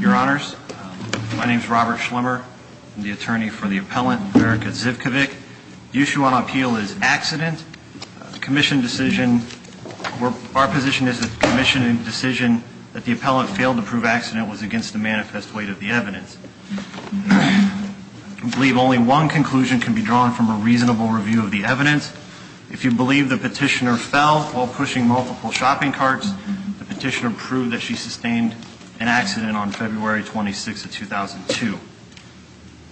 Your Honors, my name is Robert Schlemmer, the attorney for the appellant Verica Zivkovic. The issue on appeal is accident. The commission decision, our position is that the commission decision that the appellant failed to prove accident was against the manifest weight of the evidence. I believe only one conclusion can be drawn from a reasonable review of the evidence. If you believe the petitioner fell while pushing multiple shopping carts, the petitioner proved that she sustained an accident on February 26 of 2002.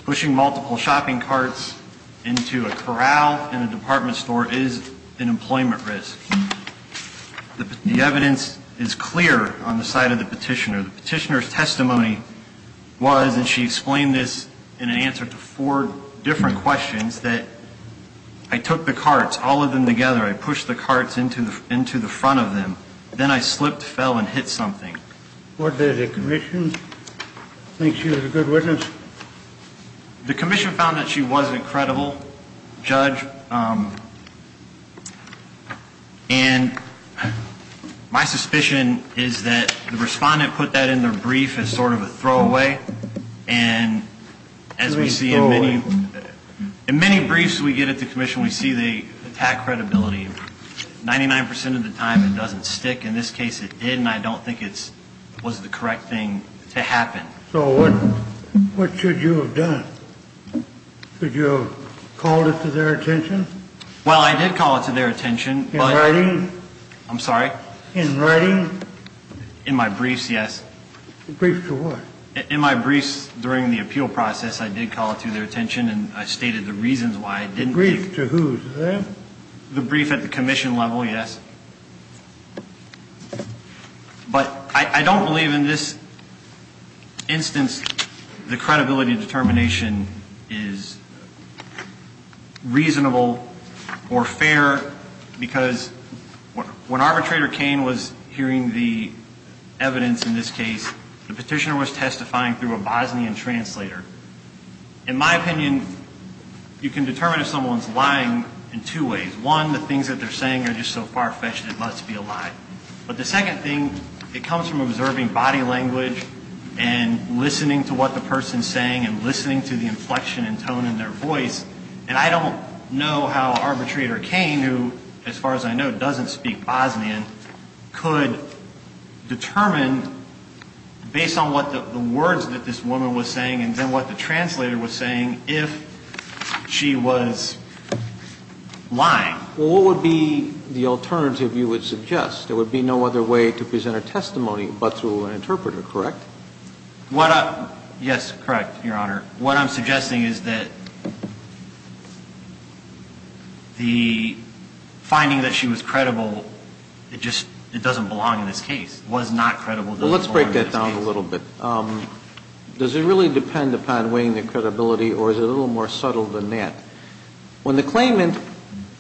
Pushing multiple shopping carts into a corral in a department store is an employment risk. The evidence is clear on the side of the petitioner. The petitioner's testimony was, and she explained this in an answer to four different questions, that I took the carts, all of them together, I pushed the carts into the front of them. Then I slipped, fell, and hit something. What did the commission think? She was a good witness? The commission found that she wasn't credible, Judge. And my suspicion is that the respondent put that in their brief as sort of a throwaway. And as we see in many briefs we get at the commission, we see the attack credibility. 99% of the time it doesn't stick. In this case it did, and I don't think it was the correct thing to happen. So what should you have done? Should you have called it to their attention? Well, I did call it to their attention. In writing? I'm sorry? In writing? In my briefs, yes. Briefs to what? In my briefs during the appeal process, I did call it to their attention, and I stated the reasons why I didn't do it. Briefs to whose? The brief at the commission level, yes. But I don't believe in this instance the credibility determination is reasonable or fair, because when Arbitrator Cain was hearing the evidence in this case, the petitioner was testifying through a Bosnian translator. In my opinion, you can determine if someone's lying in two ways. One, the things that they're saying are just so far-fetched it must be a lie. But the second thing, it comes from observing body language and listening to what the person's saying and listening to the inflection and tone in their voice. And I don't know how Arbitrator Cain, who, as far as I know, doesn't speak Bosnian, could determine, based on what the words that this woman was saying and then what the translator was saying, if she was lying. Well, what would be the alternative you would suggest? There would be no other way to present a testimony but through an interpreter, correct? Yes, correct, Your Honor. What I'm suggesting is that the finding that she was credible, it just doesn't belong in this case, was not credible. Well, let's break that down a little bit. Does it really depend upon weighing the credibility, or is it a little more subtle than that? When the claimant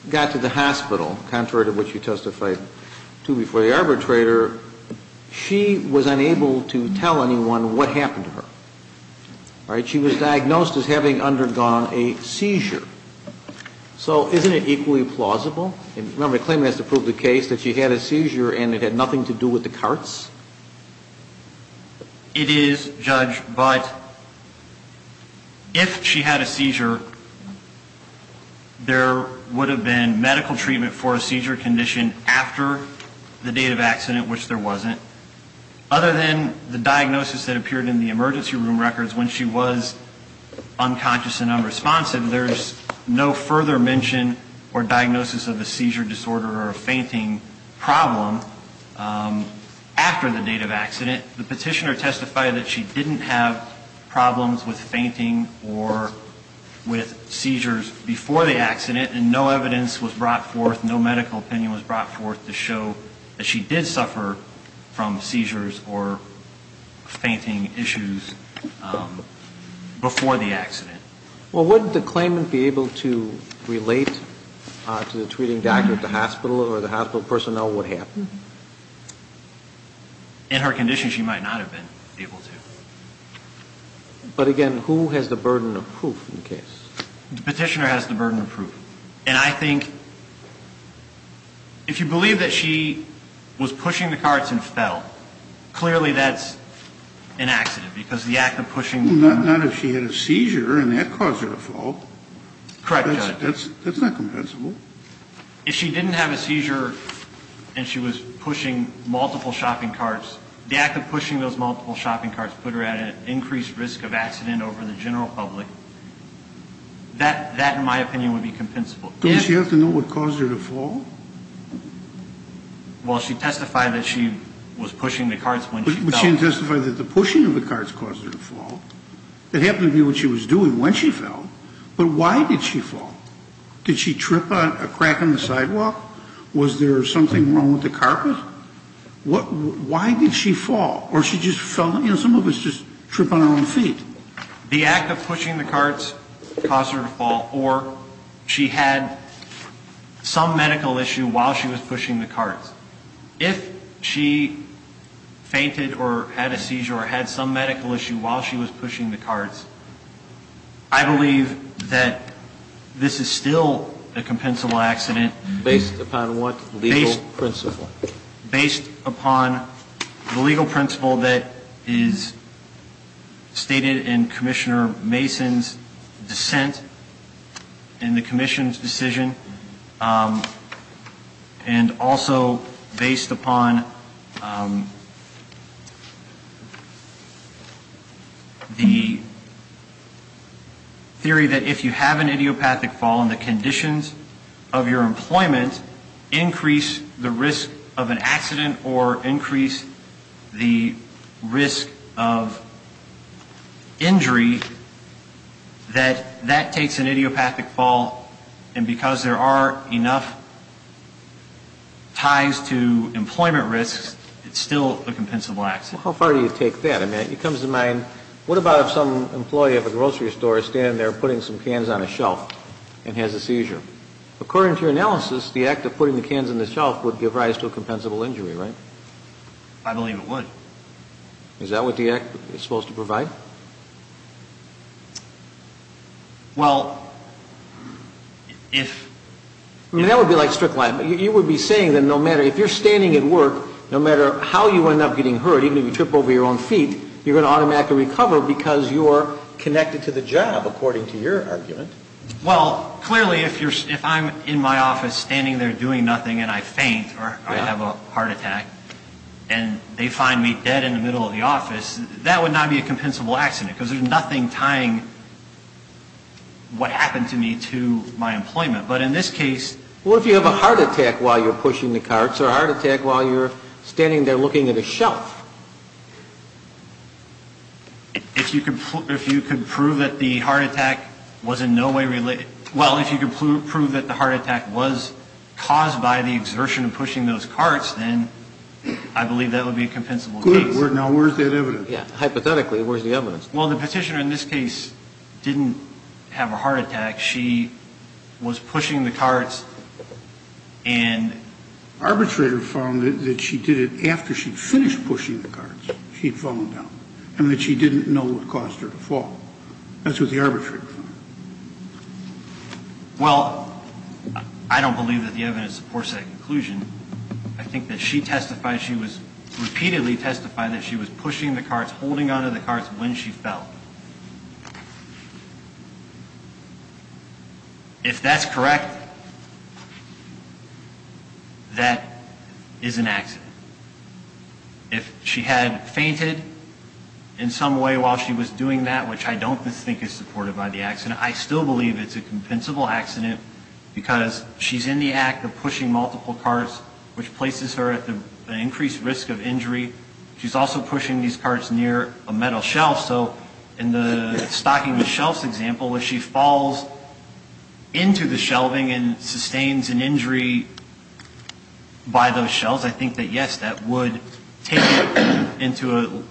got to the hospital, contrary to what you testified to before the arbitrator, she was unable to tell anyone what happened to her. She was diagnosed as having undergone a seizure. So isn't it equally plausible? Remember, the claimant has to prove the case that she had a seizure and it had nothing to do with the carts. It is, Judge, but if she had a seizure, there would have been medical treatment for a seizure condition after the date of accident, which there wasn't, so other than the diagnosis that appeared in the emergency room records when she was unconscious and unresponsive, there's no further mention or diagnosis of a seizure disorder or a fainting problem after the date of accident. The petitioner testified that she didn't have problems with fainting or with seizures before the accident, and no evidence was brought forth, no medical opinion was brought forth to show that she did suffer from seizures or fainting issues before the accident. Well, wouldn't the claimant be able to relate to the treating doctor at the hospital or the hospital personnel what happened? In her condition, she might not have been able to. But again, who has the burden of proof in the case? The petitioner has the burden of proof, and I think if you believe that she was pushing the carts and fell, clearly that's an accident because the act of pushing them. Well, not if she had a seizure and that caused her to fall. Correct, Judge. That's not compensable. If she didn't have a seizure and she was pushing multiple shopping carts, the act of pushing those multiple shopping carts put her at an increased risk of accident over the general public. That, in my opinion, would be compensable. Does she have to know what caused her to fall? Well, she testified that she was pushing the carts when she fell. But she didn't testify that the pushing of the carts caused her to fall. It happened to be what she was doing when she fell. But why did she fall? Did she trip on a crack on the sidewalk? Was there something wrong with the carpet? Why did she fall? Or she just fell? You know, some of us just trip on our own feet. The act of pushing the carts caused her to fall, or she had some medical issue while she was pushing the carts. If she fainted or had a seizure or had some medical issue while she was pushing the carts, I believe that this is still a compensable accident. Based upon what legal principle? Based upon the legal principle that is stated in Commissioner Mason's dissent in the commission's decision And also based upon the theory that if you have an idiopathic fall and the conditions of your employment increase the risk of an accident or increase the risk of injury, that that takes an idiopathic fall. And because there are enough ties to employment risks, it's still a compensable accident. Well, how far do you take that? I mean, it comes to mind, what about if some employee of a grocery store is standing there putting some cans on a shelf and has a seizure? According to your analysis, the act of putting the cans on the shelf would give rise to a compensable injury, right? I believe it would. Is that what the act is supposed to provide? Well, if... I mean, that would be like a strict line, but you would be saying that no matter, if you're standing at work, no matter how you end up getting hurt, even if you trip over your own feet, you're going to automatically recover because you're connected to the job, according to your argument. Well, clearly, if I'm in my office standing there doing nothing and I faint or I have a heart attack and they find me dead in the middle of the office, that would not be a compensable accident because there's nothing tying what happened to me to my employment. But in this case... What if you have a heart attack while you're pushing the carts or a heart attack while you're standing there looking at a shelf? If you could prove that the heart attack was in no way related... Well, if you could prove that the heart attack was caused by the exertion of pushing those carts, then I believe that would be a compensable case. Good. Now, where's that evidence? Yeah. Hypothetically, where's the evidence? Well, the petitioner in this case didn't have a heart attack. She was pushing the carts and... She'd fallen down. And that she didn't know what caused her to fall. That's what the arbitrator found. Well, I don't believe that the evidence supports that conclusion. I think that she testified she was... Repeatedly testified that she was pushing the carts, holding onto the carts when she fell. If that's correct, that is an accident. If she had fainted in some way while she was doing that, which I don't think is supported by the accident, I still believe it's a compensable accident because she's in the act of pushing multiple carts, which places her at an increased risk of injury. She's also pushing these carts near a metal shelf. So in the stocking with shelves example, if she falls into the shelving and sustains an injury by those shelves, I think that, yes, that would take her into a...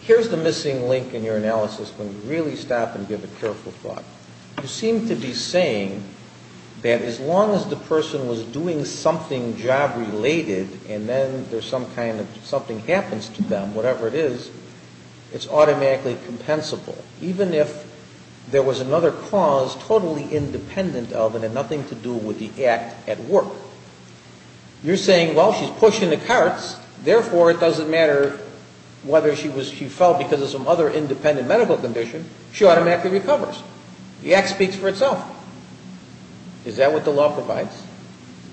Here's the missing link in your analysis. Let me really stop and give a careful thought. You seem to be saying that as long as the person was doing something job-related and then there's some kind of something happens to them, whatever it is, it's automatically compensable, even if there was another cause totally independent of and had nothing to do with the act at work. You're saying, well, she's pushing the carts, therefore it doesn't matter whether she fell because of some other independent medical condition. She automatically recovers. The act speaks for itself. Is that what the law provides?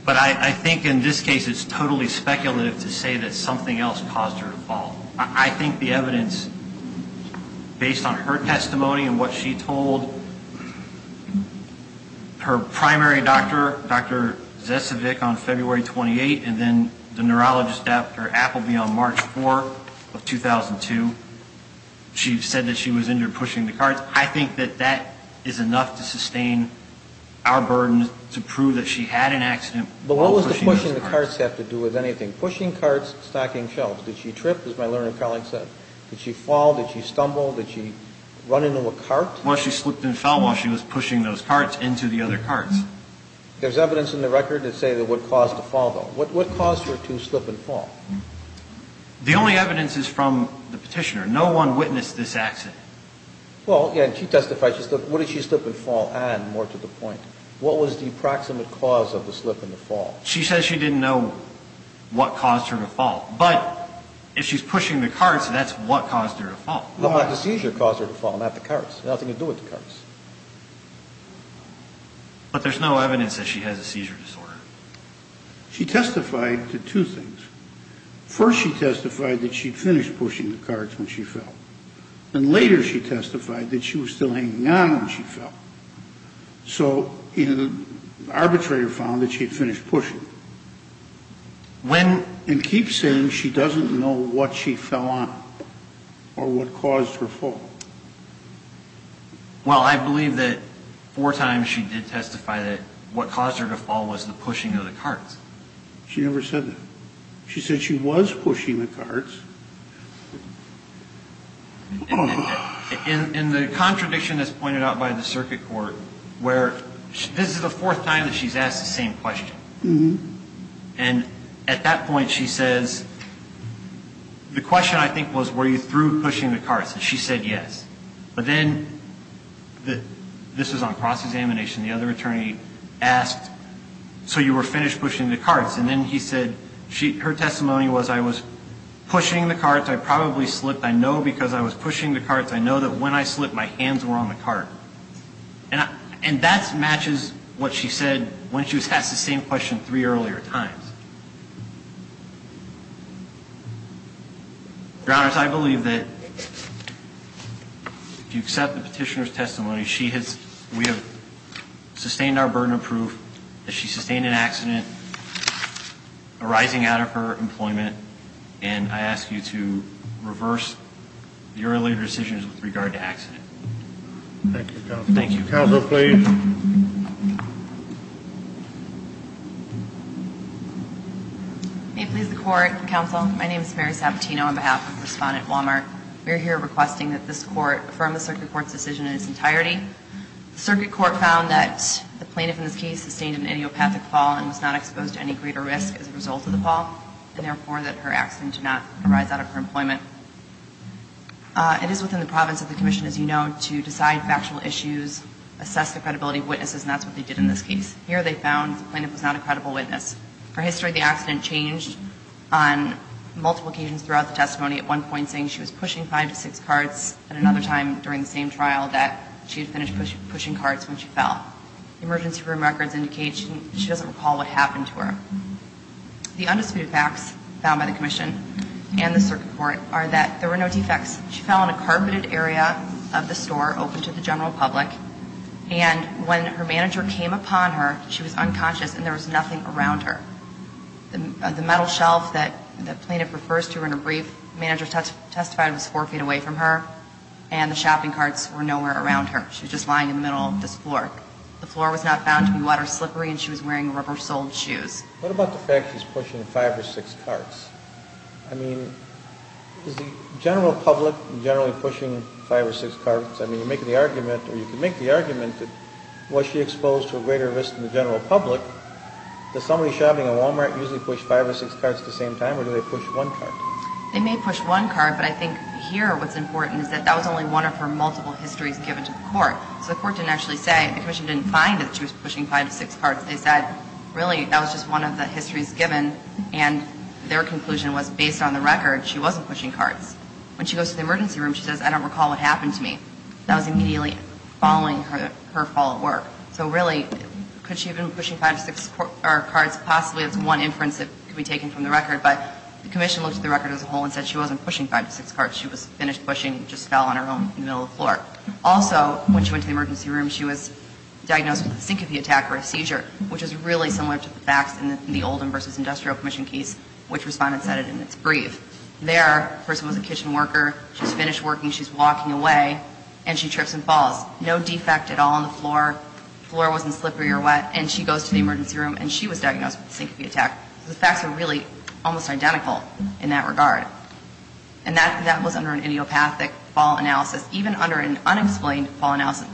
But I think in this case it's totally speculative to say that something else caused her to fall. I think the evidence, based on her testimony and what she told her primary doctor, Dr. Zesevic, on February 28th, and then the neurologist Dr. Appleby on March 4th of 2002, she said that she was injured pushing the carts. I think that that is enough to sustain our burden to prove that she had an accident while pushing those carts. But what does pushing the carts have to do with anything? Pushing carts, stacking shelves. Did she trip, as my learned colleague said? Did she fall? Did she stumble? Did she run into a cart? Well, she slipped and fell while she was pushing those carts into the other carts. There's evidence in the record that say that what caused the fall, though. What caused her to slip and fall? The only evidence is from the petitioner. No one witnessed this accident. Well, yeah, and she testified she slipped. What did she slip and fall and, more to the point, what was the approximate cause of the slip and the fall? She says she didn't know what caused her to fall. But if she's pushing the carts, that's what caused her to fall. The seizure caused her to fall, not the carts. Nothing to do with the carts. But there's no evidence that she has a seizure disorder. She testified to two things. First, she testified that she'd finished pushing the carts when she fell. And later she testified that she was still hanging on when she fell. So the arbitrator found that she'd finished pushing. And keeps saying she doesn't know what she fell on or what caused her fall. Well, I believe that four times she did testify that what caused her to fall was the pushing of the carts. She never said that. She said she was pushing the carts. In the contradiction that's pointed out by the circuit court where this is the fourth time that she's asked the same question. And at that point she says, the question I think was were you through pushing the carts? And she said yes. But then this was on cross-examination. The other attorney asked, so you were finished pushing the carts? And then he said her testimony was I was pushing the carts. I probably slipped. I know because I was pushing the carts. I know that when I slipped my hands were on the cart. And that matches what she said when she was asked the same question three earlier times. Your Honor, I believe that if you accept the petitioner's testimony, we have sustained our burden of proof that she sustained an accident arising out of her employment. And I ask you to reverse the earlier decisions with regard to accident. Thank you, counsel. Counsel, please. May it please the court, counsel. My name is Mary Sabatino on behalf of Respondent Walmart. We are here requesting that this court affirm the circuit court's decision in its entirety. The circuit court found that the plaintiff in this case sustained an idiopathic fall and was not exposed to any greater risk as a result of the fall, and therefore that her accident did not arise out of her employment. It is within the province of the commission, as you know, to decide factual issues, assess the credibility of witnesses, and that's what they did in this case. Here they found the plaintiff was not a credible witness. Her history of the accident changed on multiple occasions throughout the testimony, at one point saying she was pushing five to six carts, and another time during the same trial that she had finished pushing carts when she fell. Emergency room records indicate she doesn't recall what happened to her. The undisputed facts found by the commission and the circuit court are that there were no defects. She fell on a carpeted area of the store open to the general public, and when her manager came upon her, she was unconscious and there was nothing around her. The metal shelf that the plaintiff refers to in her brief, the manager testified it was four feet away from her, and the shopping carts were nowhere around her. She was just lying in the middle of this floor. The floor was not found to be water-slippery, and she was wearing rubber-soled shoes. What about the fact she's pushing five or six carts? I mean, is the general public generally pushing five or six carts? I mean, you're making the argument, or you can make the argument, that was she exposed to a greater risk than the general public? Does somebody shopping at Walmart usually push five or six carts at the same time, or do they push one cart? They may push one cart, but I think here what's important is that that was only one of her multiple histories given to the court. So the court didn't actually say, the commission didn't find that she was pushing five to six carts. They said, really, that was just one of the histories given, and their conclusion was, based on the record, she wasn't pushing carts. When she goes to the emergency room, she says, I don't recall what happened to me. That was immediately following her fall at work. So really, could she have been pushing five to six carts? Possibly that's one inference that could be taken from the record, but the commission looked at the record as a whole and said she wasn't pushing five to six carts. She was finished pushing, just fell on her own in the middle of the floor. Also, when she went to the emergency room, she was diagnosed with a syncope attack or a seizure, which is really similar to the facts in the Oldham v. Industrial Commission case, which Respondent said it in its brief. There, the person was a kitchen worker. She's finished working. She's walking away, and she trips and falls. No defect at all on the floor. The floor wasn't slippery or wet, and she goes to the emergency room, and she was diagnosed with a syncope attack. So the facts are really almost identical in that regard. And that was under an idiopathic fall analysis. Even under an unexplained fall analysis,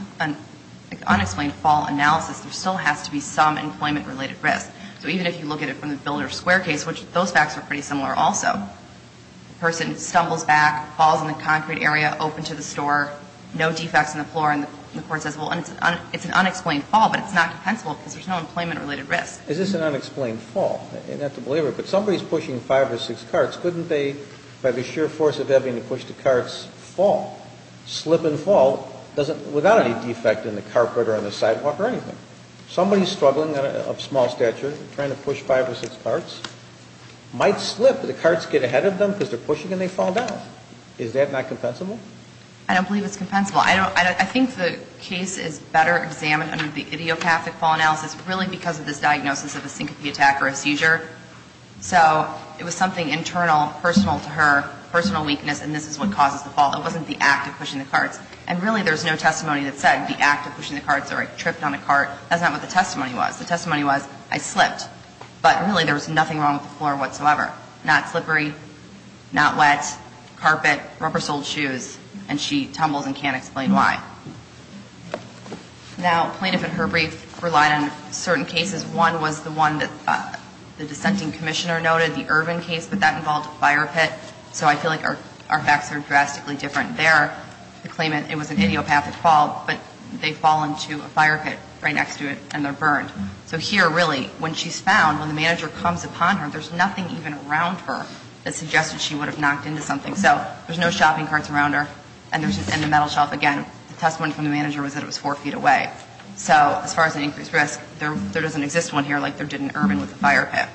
there still has to be some employment-related risk. So even if you look at it from the Builder Square case, which those facts are pretty similar also. The person stumbles back, falls in the concrete area, open to the store, no defects on the floor, and the Court says, well, it's an unexplained fall, but it's not compensable because there's no employment-related risk. Is this an unexplained fall? You have to believe it. But somebody's pushing five or six carts. Couldn't they, by the sheer force of having to push the carts, fall, slip and fall, without any defect in the carpet or on the sidewalk or anything? Somebody's struggling of small stature, trying to push five or six carts, might slip. The carts get ahead of them because they're pushing, and they fall down. Is that not compensable? I don't believe it's compensable. I think the case is better examined under the idiopathic fall analysis really because of this diagnosis of a syncope attack or a seizure. So it was something internal, personal to her, personal weakness, and this is what causes the fall. It wasn't the act of pushing the carts. And really there's no testimony that said the act of pushing the carts or I tripped on a cart. That's not what the testimony was. The testimony was I slipped. But really there was nothing wrong with the floor whatsoever, not slippery, not wet, carpet, rubber-soled shoes, and she tumbles and can't explain why. Now, plaintiff and her brief relied on certain cases. One was the one that the dissenting commissioner noted, the Irvin case, but that involved a fire pit. So I feel like our facts are drastically different there. The claimant, it was an idiopathic fall, but they fall into a fire pit right next to it and they're burned. So here, really, when she's found, when the manager comes upon her, there's nothing even around her that suggested she would have knocked into something. So there's no shopping carts around her, and the metal shelf, again, the testimony from the manager was that it was four feet away. So as far as an increased risk, there doesn't exist one here like there did in Irvin with the fire pit.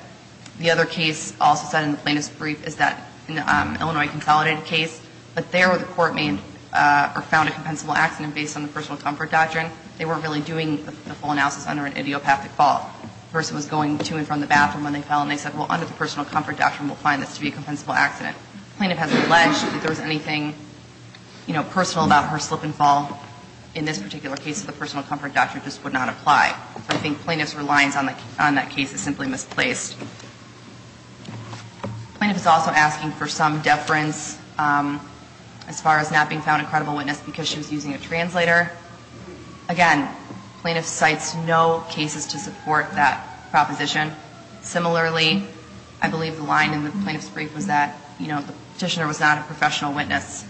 The other case also cited in the plaintiff's brief is that Illinois consolidated case, but there where the court made or found a compensable accident based on the personal comfort doctrine, they weren't really doing the full analysis under an idiopathic fall. The person was going to and from the bathroom when they fell, and they said, well, under the personal comfort doctrine, we'll find this to be a compensable accident. The plaintiff has alleged that there was anything, you know, personal about her slip and fall. In this particular case, the personal comfort doctrine just would not apply. I think plaintiff's reliance on that case is simply misplaced. Plaintiff is also asking for some deference as far as not being found a credible witness because she was using a translator. Again, plaintiff cites no cases to support that proposition. Similarly, I believe the line in the plaintiff's brief was that, you know, the petitioner was not a professional witness.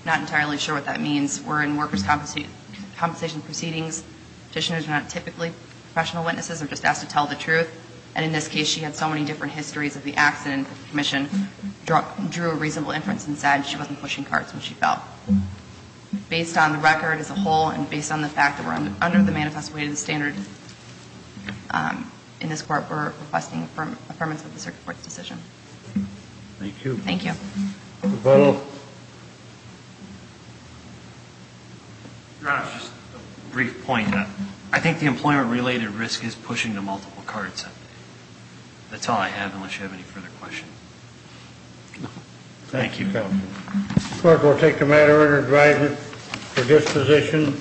I'm not entirely sure what that means. We're in workers' compensation proceedings. Petitioners are not typically professional witnesses. They're just asked to tell the truth. And in this case, she had so many different histories of the accident that the commission drew a reasonable inference and said she wasn't pushing cards when she fell. Based on the record as a whole and based on the fact that we're under the manifest weight of the standard in this court, we're requesting affirmance of the circuit court's decision. Thank you. Thank you. Mr. Butler? Your Honor, just a brief point. I think the employment-related risk is pushing the multiple cards. That's all I have, unless you have any further questions. Thank you. Thank you, counsel. The court will take the matter under guidance for disposition.